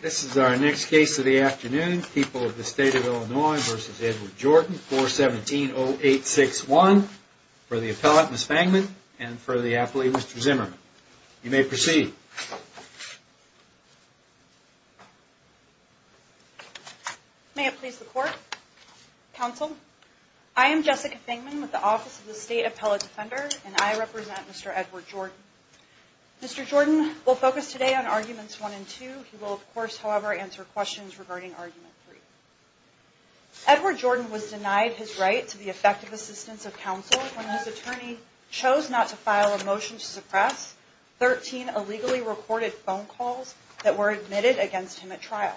This is our next case of the afternoon, People of the State of Illinois v. Edward Jordan, 417-0861, for the appellant, Ms. Fangman, and for the athlete, Mr. Zimmerman. You may proceed. Jessica Fangman May it please the Court, Counsel, I am Jessica Fangman with the Office of the State Appellate Defender, and I represent Mr. Edward Jordan. Mr. Jordan will focus today on Arguments 1 and 2. He will, of course, however, answer questions regarding Argument 3. Edward Jordan was denied his right to the effective assistance of counsel when his attorney chose not to file a motion to suppress 13 illegally recorded phone calls that were admitted against him at trial.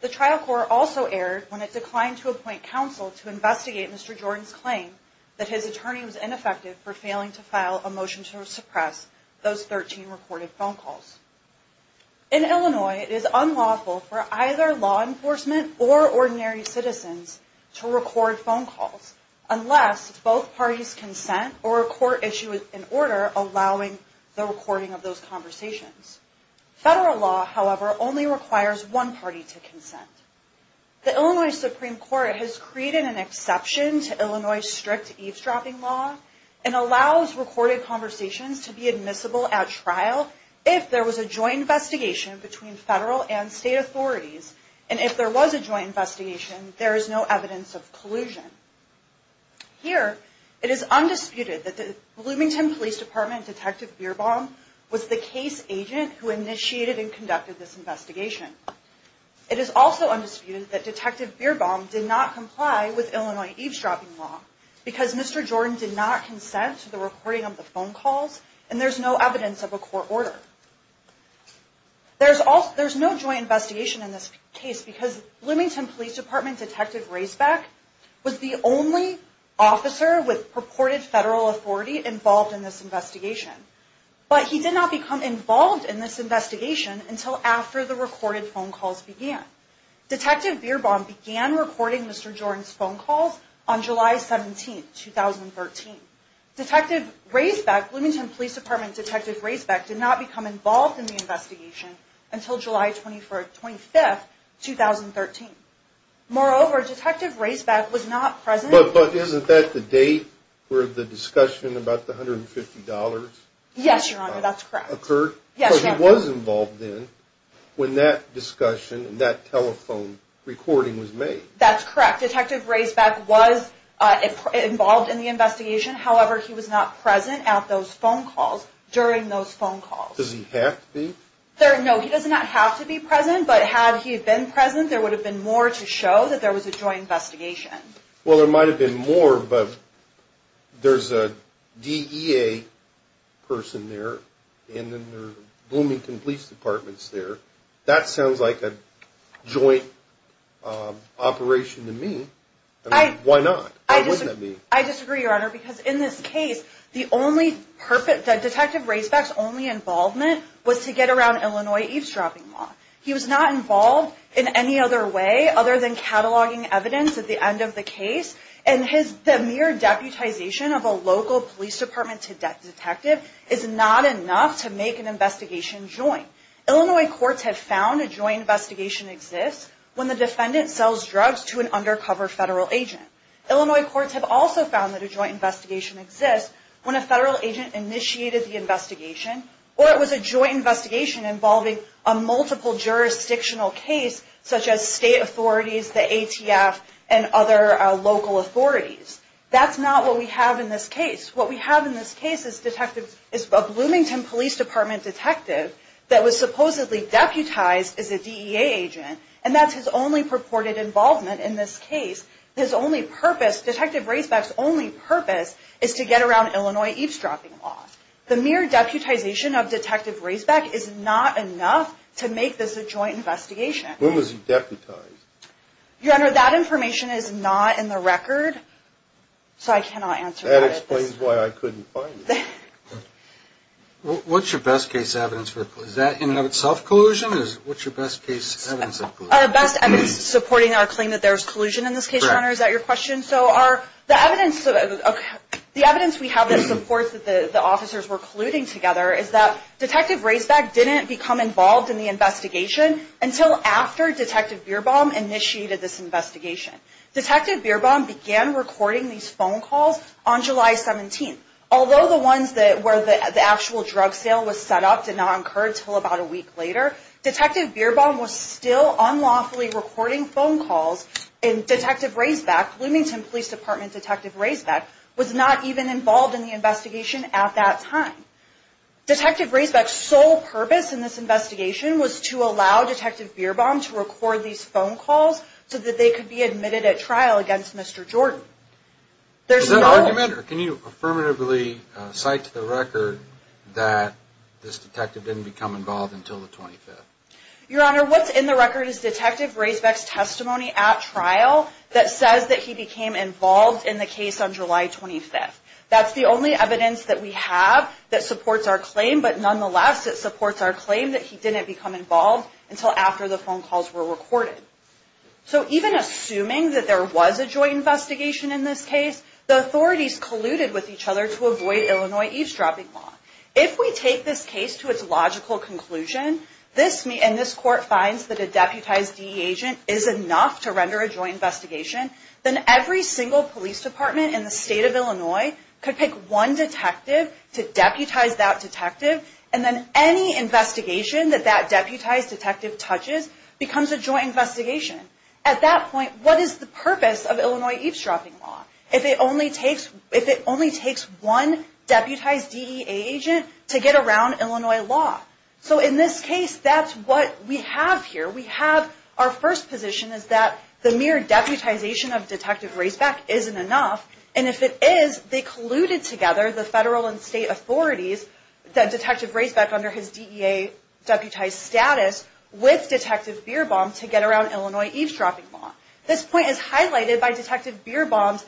The trial court also erred when it declined to appoint counsel to investigate Mr. Jordan's claim that his attorney was ineffective for failing to file a motion to suppress those 13 recorded phone calls. In Illinois, it is unlawful for either law enforcement or ordinary citizens to record phone calls unless both parties consent or a court issue an order allowing the recording of those conversations. Federal law, however, only requires one party to consent. The Illinois Supreme Court has created an exception to Illinois' strict eavesdropping law and allows recorded conversations to be admissible at trial if there was a joint investigation between federal and state authorities, and if there was a joint investigation, there is no evidence of collusion. Here, it is undisputed that the Bloomington Police Department Detective Bierbaum was the case agent who initiated and conducted this investigation. It is also undisputed that Detective Bierbaum did not comply with Illinois' eavesdropping law because Mr. Jordan did not consent to the recording of the phone calls and there is no evidence of a court order. There is no joint investigation in this case because Bloomington Police Department Detective Racebeck was the only officer with purported federal authority involved in this investigation, but he did not become involved in this investigation until after the recorded phone calls began. Detective Bierbaum began recording Mr. Jordan's phone calls on July 17th, 2013. Detective Racebeck did not become involved in the investigation until July 25th, 2013. Moreover, Detective Racebeck was not present... But isn't that the date where the discussion about the $150 occurred? Because he was involved then when that discussion and that telephone recording was made. That's correct. Detective Racebeck was involved in the investigation, however, he was not present at those phone calls during those phone calls. Does he have to be? No, he does not have to be present, but had he been present, there would have been more to show that there was a joint investigation. Well, there might have been more, but there's a DEA person there and then there are Bloomington Police Departments there. That sounds like a joint operation to me. Why not? I disagree, Your Honor, because in this case, Detective Racebeck's only involvement was to get around Illinois eavesdropping law. He was not involved in any other way other than cataloging evidence at the end of the case, and the mere deputization of a local police department detective is not enough to make an investigation joint. Illinois courts have found a joint investigation exists when the defendant sells drugs to an undercover federal agent. Illinois courts have also found that a joint investigation exists when a federal agent initiated the investigation, or it was a joint investigation involving a multiple jurisdictional case such as state authorities, the ATF, and other local authorities. That's not what we have in this case. What we have in this case is a Bloomington Police Department detective that was supposedly deputized as a DEA agent, and that's his only purported involvement in this case. Detective Racebeck's only purpose is to get around Illinois eavesdropping law. The mere deputization of Detective Racebeck is not enough to make this a joint investigation. When was he deputized? Your Honor, that information is not in the record, so I cannot answer that. That explains why I couldn't find it. What's your best case evidence? Is that in and of itself collusion, or what's your best case evidence of collusion? Our best evidence supporting our claim that there's collusion in this case, Your Honor. Is that your question? The evidence we have that supports that the officers were colluding together is that Detective Racebeck didn't become involved in the investigation until after Detective Bierbaum initiated this investigation. Detective Bierbaum began recording these phone calls on July 17th. Although the ones where the actual drug sale was set up did not occur until about a week later, Detective Bierbaum was still unlawfully recording phone calls, and Detective Racebeck, Bloomington Police Department Detective Racebeck, was not even involved in the investigation at that time. Detective Racebeck's sole purpose in this investigation was to allow Detective Bierbaum to record these phone calls so that they could be admitted at trial against Mr. Jordan. Is that an argument, or can you affirmatively cite to the record that this detective didn't become involved until the 25th? Your Honor, what's in the record is Detective Racebeck's testimony at trial that says that he became involved in the case on July 25th. That's the only evidence that we have that supports our claim, but nonetheless, it supports our claim that he didn't become involved until after the phone calls were recorded. So even assuming that there was a joint investigation in this case, the authorities colluded with each other to avoid Illinois eavesdropping law. If we take this case to its logical conclusion, and this court finds that a deputized DE agent is enough to render a joint investigation, then every single police department in the state of Illinois could pick one detective to deputize that detective, and then any investigation that that deputized detective touches becomes a joint investigation. At that point, what is the purpose of Illinois eavesdropping law if it only takes one deputized DEA agent to get around Illinois law? So in this case, that's what we have here. We have our first position is that the mere deputization of Detective Racebeck isn't enough, and if it is, they colluded together, the federal and state authorities, Detective Racebeck under his DEA deputized status with Detective Bierbaum to get around Illinois eavesdropping law. This point is highlighted by Detective Bierbaum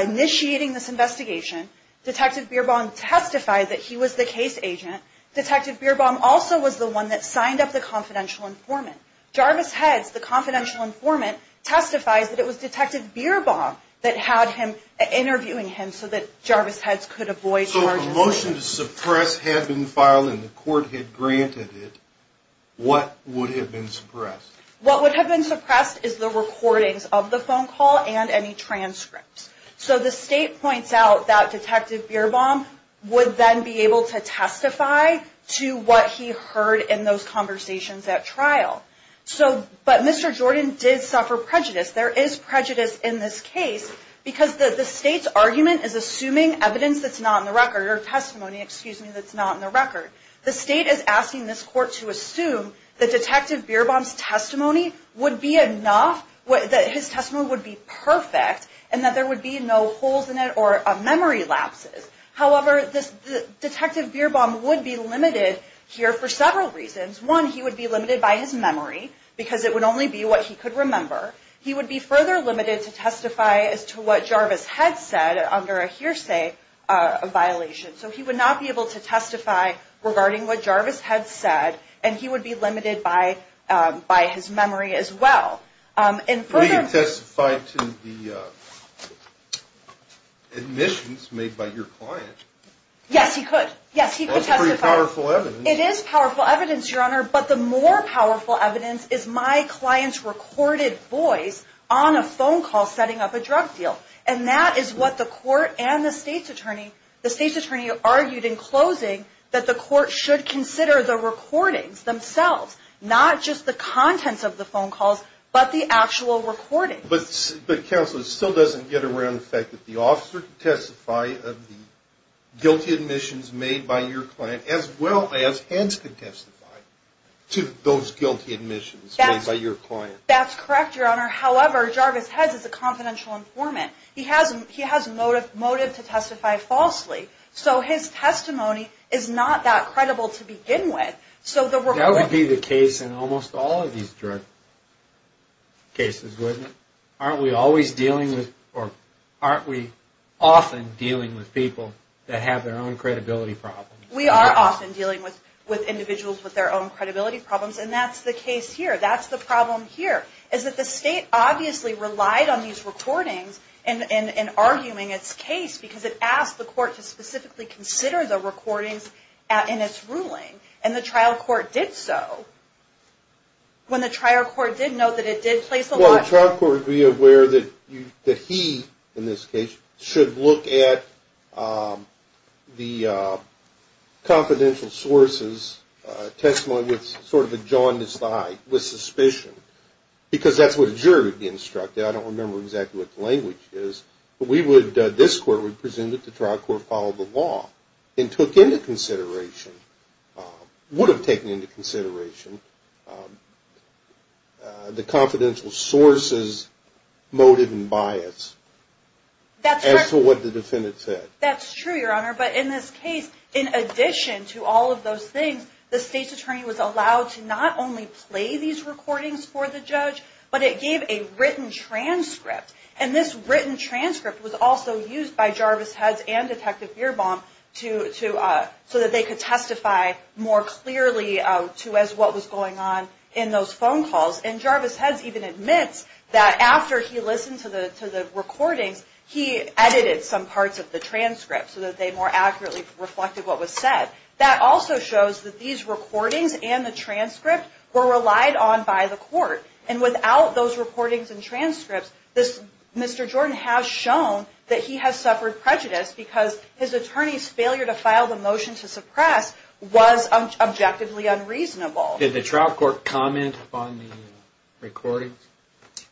initiating this investigation. Detective Bierbaum testified that he was the case agent. Detective Bierbaum also was the one that signed up the confidential informant. Jarvis Heads, the confidential informant, testifies that it was Detective Bierbaum that had him interviewing him so that Jarvis Heads could avoid charges. If the motion to suppress had been filed and the court had granted it, what would have been suppressed? The state is asking this court to assume that Detective Bierbaum's testimony would be enough, that his testimony would be perfect, and that there would be no holes in it or memory lapses. However, Detective Bierbaum would be limited here for several reasons. One, he would be limited by his memory because it would only be what he could remember. He would be further limited to testify as to what Jarvis Heads said under a hearsay violation. So he would not be able to testify regarding what Jarvis Heads said, and he would be limited by his memory as well. But he could testify to the admissions made by your client. Yes, he could. Yes, he could testify. That's pretty powerful evidence. It is powerful evidence, Your Honor, but the more powerful evidence is my client's recorded voice on a phone call setting up a drug deal. And that is what the court and the state's attorney argued in closing that the court should consider the recordings themselves, not just the contents of the phone calls, but the actual recordings. But Counsel, it still doesn't get around the fact that the officer could testify of the guilty admissions made by your client as well as Heads could testify to those guilty admissions made by your client. That's correct, Your Honor. However, Jarvis Heads is a confidential informant. He has motive to testify falsely. So his testimony is not that credible to begin with. That would be the case in almost all of these drug cases, wouldn't it? Aren't we often dealing with people that have their own credibility problems? We are often dealing with individuals with their own credibility problems, and that's the case here. That's the problem here, is that the state obviously relied on these recordings in arguing its case because it asked the court to specifically consider the recordings in its ruling, and the trial court did so. Well, the trial court would be aware that he, in this case, should look at the confidential sources testimony with sort of a jaundiced eye, with suspicion, because that's what a jury would be instructed. I don't remember exactly what the language is. This court would presume that the trial court followed the law and took into consideration, would have taken into consideration, the confidential sources, motive, and bias as to what the defendant said. That's true, Your Honor, but in this case, in addition to all of those things, the state's attorney was allowed to not only play these recordings for the judge, but it gave a written transcript. And this written transcript was also used by Jarvis Heads and Detective Beerbaum so that they could testify more clearly as to what was going on in those phone calls, and Jarvis Heads even admits that after he listened to the recordings, he edited some parts of the transcript so that they more accurately reflected what was said. That also shows that these recordings and the transcript were relied on by the court, and without those recordings and transcripts, Mr. Jordan has shown that he has suffered prejudice because his attorney's failure to file the motion to suppress was objectively unreasonable. Did the trial court comment upon the recordings?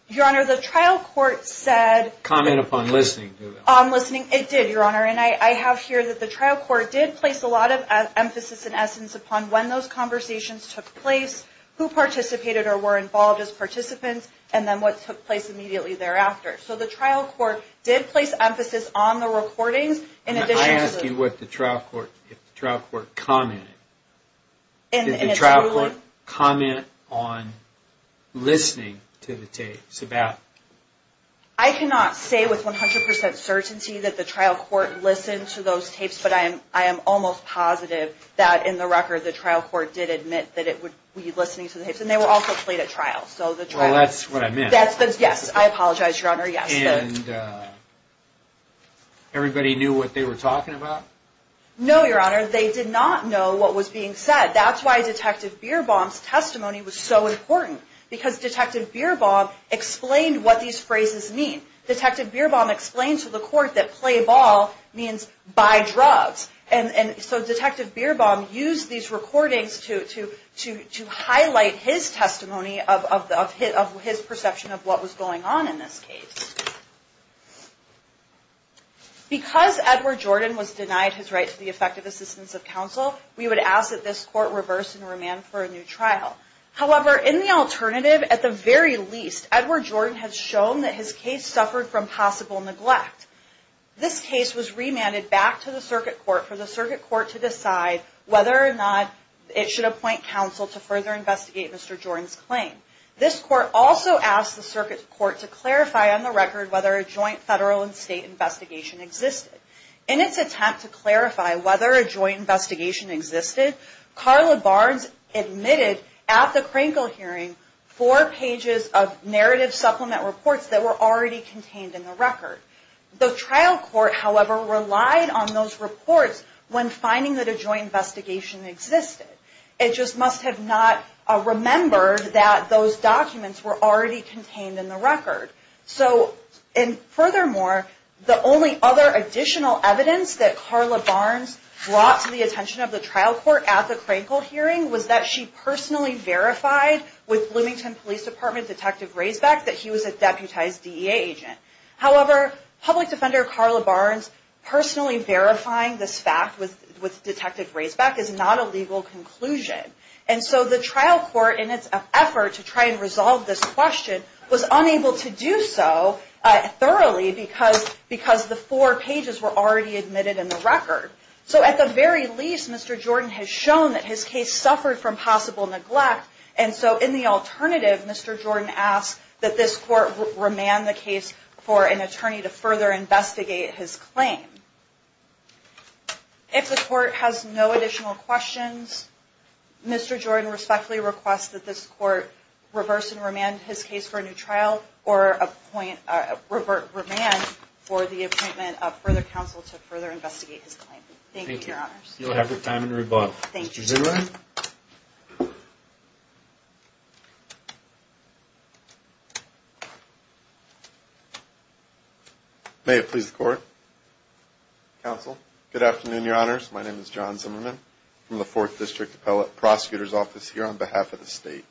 Your Honor, the trial court said... Comment upon listening to them. It did, Your Honor, and I have here that the trial court did place a lot of emphasis in essence upon when those conversations took place, who participated or were involved as participants, and then what took place immediately thereafter. So the trial court did place emphasis on the recordings in addition to... I ask you what the trial court, if the trial court commented. Did the trial court comment on listening to the tapes about... I cannot say with 100% certainty that the trial court listened to those tapes, but I am almost positive that in the record, the trial court did admit that it would be listening to the tapes, and they were also played at trial. Well, that's what I meant. Yes, I apologize, Your Honor, yes. And everybody knew what they were talking about? No, Your Honor, they did not know what was being said. That's why Detective Bierbaum's testimony was so important, because Detective Bierbaum explained what these phrases mean. Detective Bierbaum explained to the court that play ball means buy drugs, and so Detective Bierbaum used these recordings to highlight his testimony of his perception of what was going on in this case. Because Edward Jordan was denied his right to the effective assistance of counsel, we would ask that this court reverse and remand for a new trial. However, in the alternative, at the very least, Edward Jordan has shown that his case suffered from possible neglect. This case was remanded back to the circuit court for the circuit court to decide whether or not it should appoint counsel to further investigate Mr. Jordan's claim. This court also asked the circuit court to clarify on the record whether a joint federal and state investigation existed. In its attempt to clarify whether a joint investigation existed, Carla Barnes admitted at the Krankel hearing four pages of narrative supplement reports that were already contained in the record. The trial court, however, relied on those reports when finding that a joint investigation existed. It just must have not remembered that those documents were already contained in the record. Furthermore, the only other additional evidence that Carla Barnes brought to the attention of the trial court at the Krankel hearing was that she personally verified with Bloomington Police Department Detective Raisbeck that he was a deputized DEA agent. However, public defender Carla Barnes personally verifying this fact with Detective Raisbeck is not a legal conclusion. And so the trial court, in its effort to try and resolve this question, was unable to do so thoroughly because the four pages were already admitted in the record. So at the very least, Mr. Jordan has shown that his case suffered from possible neglect. And so in the alternative, Mr. Jordan asked that this court remand the case for an attorney to further investigate his claim. If the court has no additional questions, Mr. Jordan respectfully requests that this court reverse and remand his case for a new trial or remand for the appointment of further counsel to further investigate his claim. Thank you, Your Honors. You'll have your time to rebut. Thank you. Mr. Zimmerman? May it please the court. Counsel. Good afternoon, Your Honors. My name is John Zimmerman from the Fourth District Appellate Prosecutor's Office here on behalf of the state.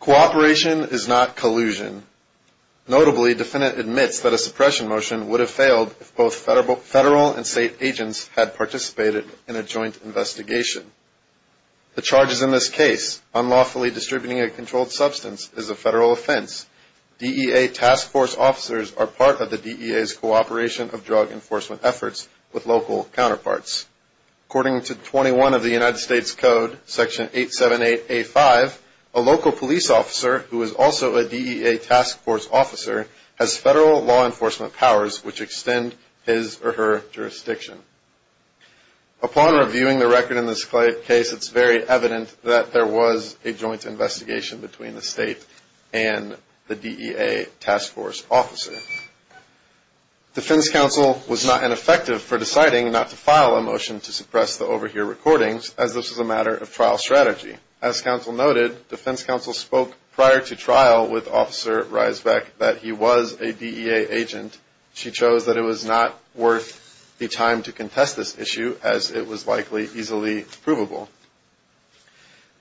Cooperation is not collusion. Notably, defendant admits that a suppression motion would have failed if both federal and state agents had participated in a joint investigation. The charges in this case, unlawfully distributing a controlled substance, is a federal offense. DEA task force officers are part of the DEA's cooperation of drug enforcement efforts with local counterparts. According to 21 of the United States Code, Section 878A5, a local police officer who is also a DEA task force officer has federal law enforcement powers which extend his or her jurisdiction. Upon reviewing the record in this case, it's very evident that there was a joint investigation between the state and the DEA task force officer. Defense counsel was not ineffective for deciding not to file a motion to suppress the overhear recordings as this was a matter of trial strategy. As counsel noted, defense counsel spoke prior to trial with Officer Riesbeck that he was a DEA agent. She chose that it was not worth the time to contest this issue as it was likely easily provable.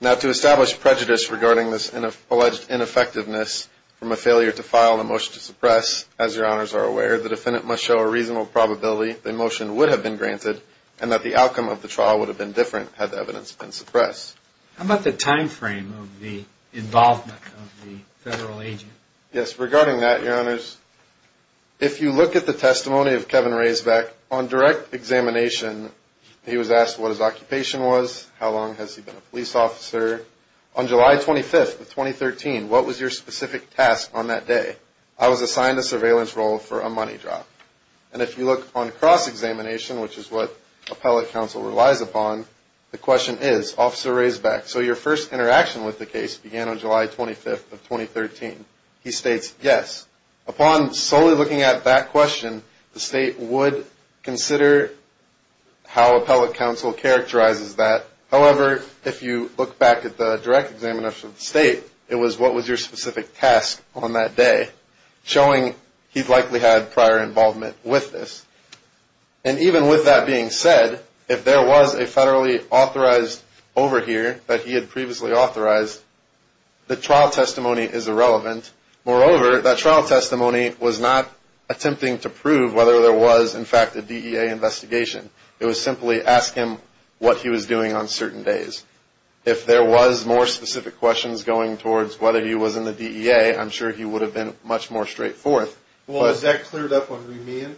Now, to establish prejudice regarding this alleged ineffectiveness from a failure to file a motion to suppress, as your honors are aware, the defendant must show a reasonable probability the motion would have been granted and that the outcome of the trial would have been different had the evidence been suppressed. How about the time frame of the involvement of the federal agent? Yes, regarding that, your honors, if you look at the testimony of Kevin Riesbeck, on direct examination, he was asked what his occupation was, how long has he been a police officer. On July 25th of 2013, what was your specific task on that day? I was assigned the surveillance role for a money drop. And if you look on cross-examination, which is what appellate counsel relies upon, the question is, Officer Riesbeck, so your first interaction with the case began on July 25th of 2013. He states, yes. Upon solely looking at that question, the state would consider how appellate counsel characterizes that. However, if you look back at the direct examination of the state, it was what was your specific task on that day, showing he likely had prior involvement with this. And even with that being said, if there was a federally authorized overhear that he had previously authorized, the trial testimony is irrelevant. Moreover, that trial testimony was not attempting to prove whether there was, in fact, a DEA investigation. It was simply ask him what he was doing on certain days. If there was more specific questions going towards whether he was in the DEA, I'm sure he would have been much more straightforward. Well, is that cleared up on remand?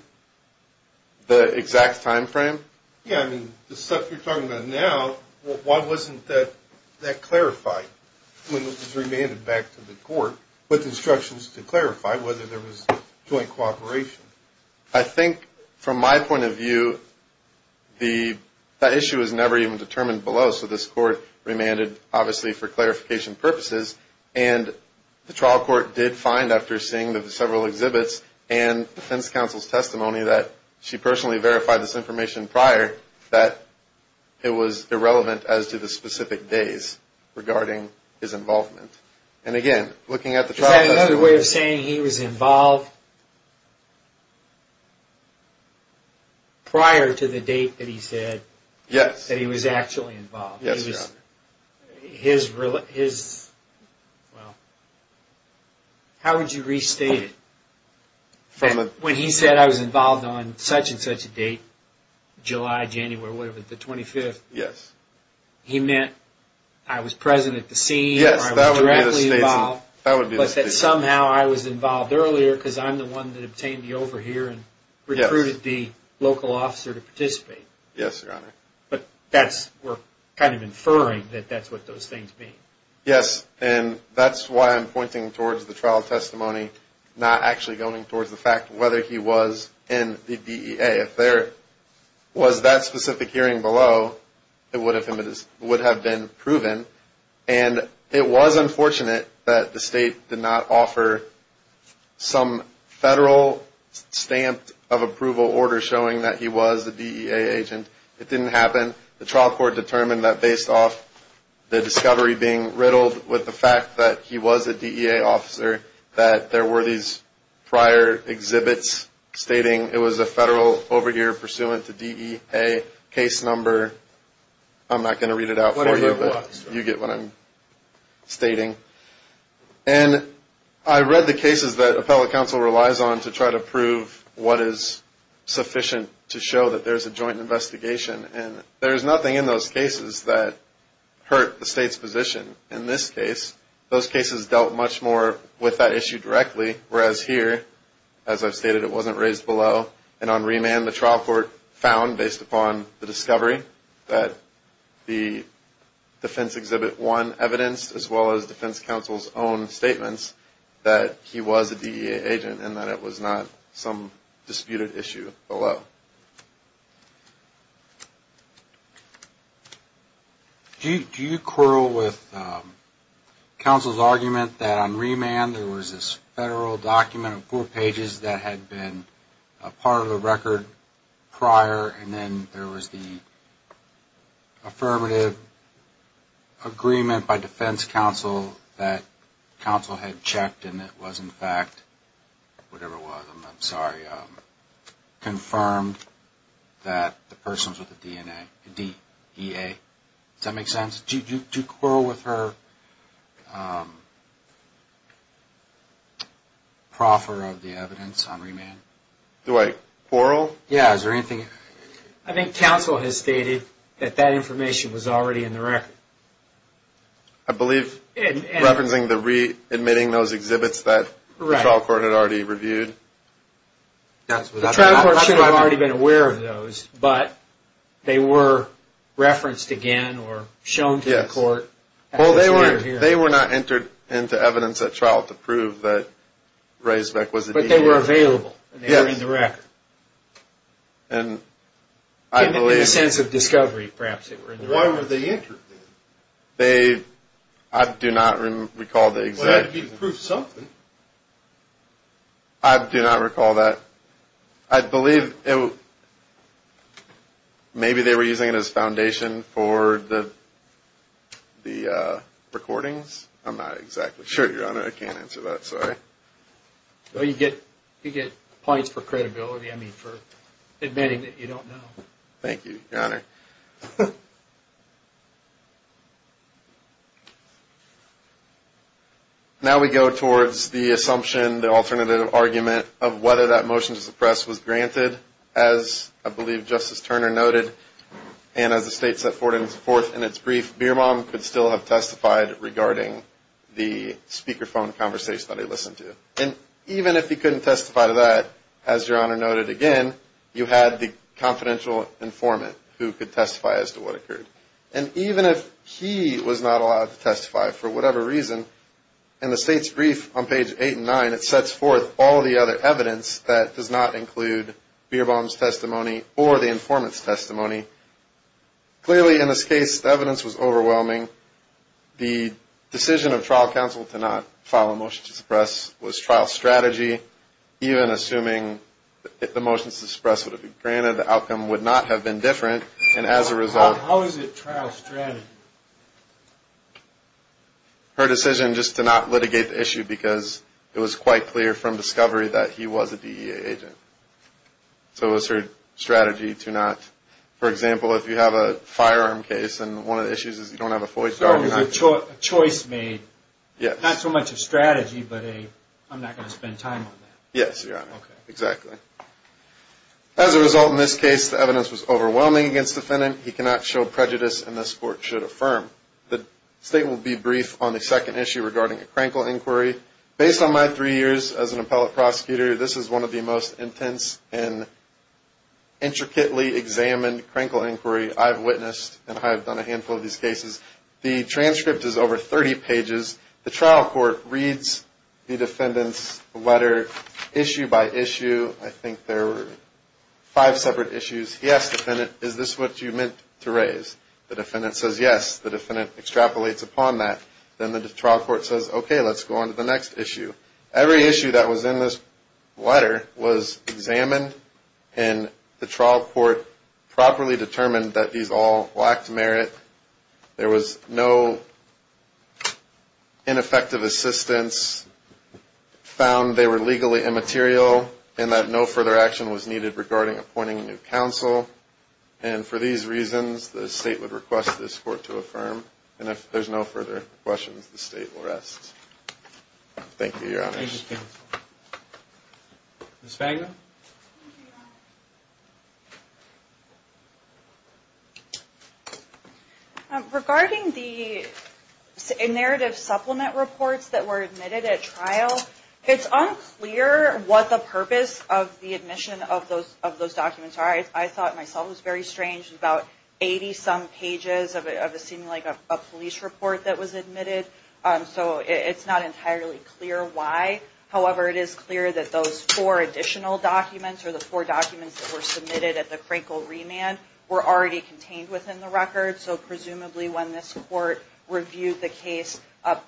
The exact time frame? Yeah, I mean, the stuff you're talking about now, why wasn't that clarified when it was remanded back to the court with instructions to clarify whether there was joint cooperation? I think, from my point of view, that issue was never even determined below, so this court remanded, obviously, for clarification purposes. And the trial court did find, after seeing the several exhibits and defense counsel's testimony, that she personally verified this information prior, that it was irrelevant as to the specific days regarding his involvement. And again, looking at the trial testimony... Is that another way of saying he was involved prior to the date that he said that he was actually involved? Yes. How would you restate it? When he said I was involved on such and such a date, July, January, whatever, the 25th, he meant I was present at the scene or I was directly involved, but that somehow I was involved earlier because I'm the one that obtained the overhear and recruited the local officer to participate. Yes, Your Honor. But we're kind of inferring that that's what those things mean. Yes, and that's why I'm pointing towards the trial testimony, not actually going towards the fact whether he was in the DEA. If there was that specific hearing below, it would have been proven. And it was unfortunate that the state did not offer some federal stamp of approval order showing that he was a DEA agent. It didn't happen. The trial court determined that based off the discovery being riddled with the fact that he was a DEA officer, that there were these prior exhibits stating it was a federal overhear pursuant to DEA case number. I'm not going to read it out for you, but you get what I'm stating. And I read the cases that appellate counsel relies on to try to prove what is sufficient to show that there's a joint investigation, and there's nothing in those cases that hurt the state's position. In this case, those cases dealt much more with that issue directly, whereas here, as I've stated, it wasn't raised below. And on remand, the trial court found, based upon the discovery, that the defense exhibit one evidenced, as well as defense counsel's own statements, that he was a DEA agent and that it was not some disputed issue below. Do you quarrel with counsel's argument that on remand, there was this federal document of four pages that had been part of the record prior, and then there was the affirmative agreement by defense counsel that counsel had checked, and it was, in fact, whatever it was, I'm sorry, confirmed that the person was with a DEA. Does that make sense? Do you quarrel with her proffer of the evidence on remand? Do I quarrel? Yeah, is there anything? I think counsel has stated that that information was already in the record. I believe, referencing the re-admitting those exhibits that the trial court had already reviewed. The trial court should have already been aware of those, but they were referenced again or shown to the court. Well, they were not entered into evidence at trial to prove that Ray Zweck was a DEA agent. They were available and they were in the record. In the sense of discovery, perhaps. Why were they entered then? I do not recall the exact reason. Well, that would be proof of something. I do not recall that. I believe maybe they were using it as foundation for the recordings. I'm not exactly sure, Your Honor. I can't answer that, sorry. You get points for credibility, I mean, for admitting that you don't know. Thank you, Your Honor. Now we go towards the assumption, the alternative argument, of whether that motion to suppress was granted. As I believe Justice Turner noted, and as the state set forth in its brief, Beerbohm could still have testified regarding the speakerphone conversation that he listened to. And even if he couldn't testify to that, as Your Honor noted again, you had the confidential informant who could testify as to what occurred. And even if he was not allowed to testify for whatever reason, in the state's brief on page 8 and 9, it sets forth all the other evidence that does not include Beerbohm's testimony or the informant's testimony. Clearly, in this case, the evidence was overwhelming. The decision of trial counsel to not file a motion to suppress was trial strategy, even assuming that the motions to suppress would have been granted, the outcome would not have been different. And as a result... How is it trial strategy? Her decision just to not litigate the issue because it was quite clear from discovery that he was a DEA agent. So it was her strategy to not... For example, if you have a firearm case, and one of the issues is you don't have a FOIA... So it was a choice made. Yes. Not so much a strategy, but a, I'm not going to spend time on that. Yes, Your Honor. Okay. Exactly. As a result, in this case, the evidence was overwhelming against the defendant. He cannot show prejudice, and this court should affirm. The state will be brief on the second issue regarding a Krankel inquiry. Based on my three years as an appellate prosecutor, this is one of the most intense and intricately examined Krankel inquiry I've witnessed, and I have done a handful of these cases. The transcript is over 30 pages. The trial court reads the defendant's letter issue by issue. I think there are five separate issues. Yes, defendant, is this what you meant to raise? The defendant says yes. The defendant extrapolates upon that. Then the trial court says, okay, let's go on to the next issue. Every issue that was in this letter was examined, and the trial court properly determined that these all lacked merit. There was no ineffective assistance, found they were legally immaterial, and that no further action was needed regarding appointing a new counsel. And for these reasons, the state would request this court to affirm, and if there's no further questions, the state will rest. Thank you, Your Honor. Thank you, counsel. Ms. Wagner? Regarding the narrative supplement reports that were admitted at trial, it's unclear what the purpose of the admission of those documents are. I thought myself it was very strange. About 80-some pages of what seemed like a police report that was admitted. So it's not entirely clear why. However, it is clear that those four additional documents or the four documents that were submitted at the Krinkle remand were already contained within the record. So presumably when this court reviewed the case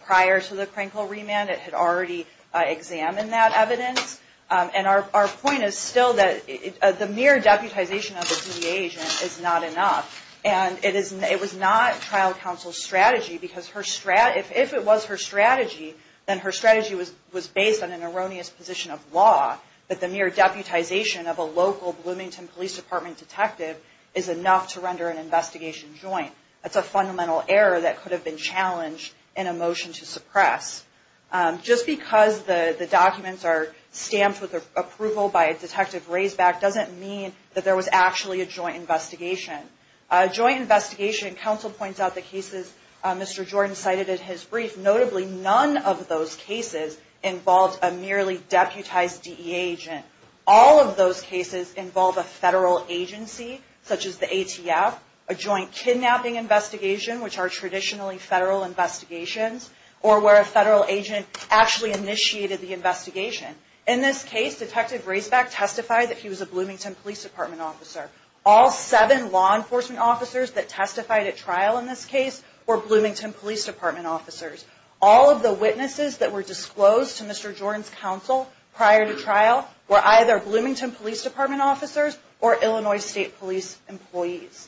prior to the Krinkle remand, it had already examined that evidence. And our point is still that the mere deputization of a DA agent is not enough. And it was not trial counsel's strategy, because if it was her strategy, then her strategy was based on an erroneous position of law. But the mere deputization of a local Bloomington Police Department detective is enough to render an investigation joint. That's a fundamental error that could have been challenged in a motion to suppress. Just because the documents are stamped with approval by a detective raised back doesn't mean that there was actually a joint investigation. A joint investigation counsel points out the cases Mr. Jordan cited in his brief. Notably, none of those cases involved a merely deputized DEA agent. All of those cases involve a federal agency, such as the ATF, a joint kidnapping investigation, which are traditionally federal investigations, or where a federal agent actually initiated the investigation. In this case, Detective Raceback testified that he was a Bloomington Police Department officer. All seven law enforcement officers that testified at trial in this case were Bloomington Police Department officers. All of the witnesses that were disclosed to Mr. Jordan's counsel prior to trial were either Bloomington Police Department officers or Illinois State Police employees.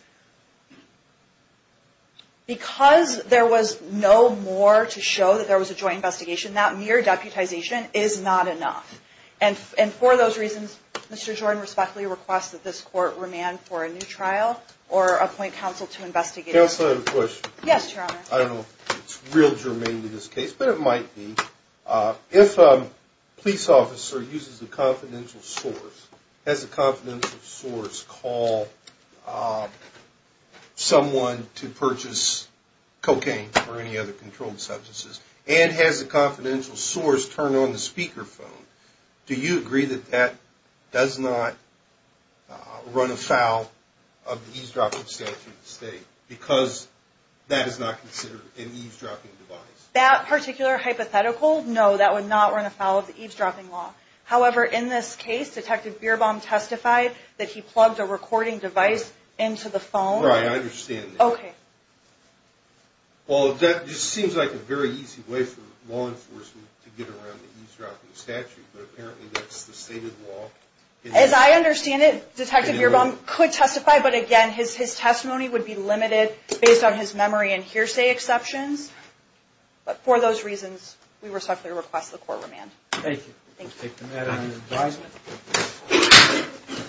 Because there was no more to show that there was a joint investigation, that mere deputization is not enough. And for those reasons, Mr. Jordan respectfully requests that this court remand for a new trial or appoint counsel to investigate it. Counsel, I have a question. Yes, Your Honor. I don't know if it's real germane to this case, but it might be. If a police officer uses a confidential source, has a confidential source call someone to purchase cocaine or any other controlled substances, and has a confidential source turn on the speakerphone, do you agree that that does not run afoul of the eavesdropping statute in the state? Because that is not considered an eavesdropping device. That particular hypothetical, no, that would not run afoul of the eavesdropping law. However, in this case, Detective Bierbaum testified that he plugged a recording device into the phone. Right, I understand that. Okay. Well, that just seems like a very easy way for law enforcement to get around the eavesdropping statute, but apparently that's the state of the law. As I understand it, Detective Bierbaum could testify, but again, his testimony would be limited based on his memory and hearsay exceptions. But for those reasons, we respectfully request the court remand. Thank you. Thank you.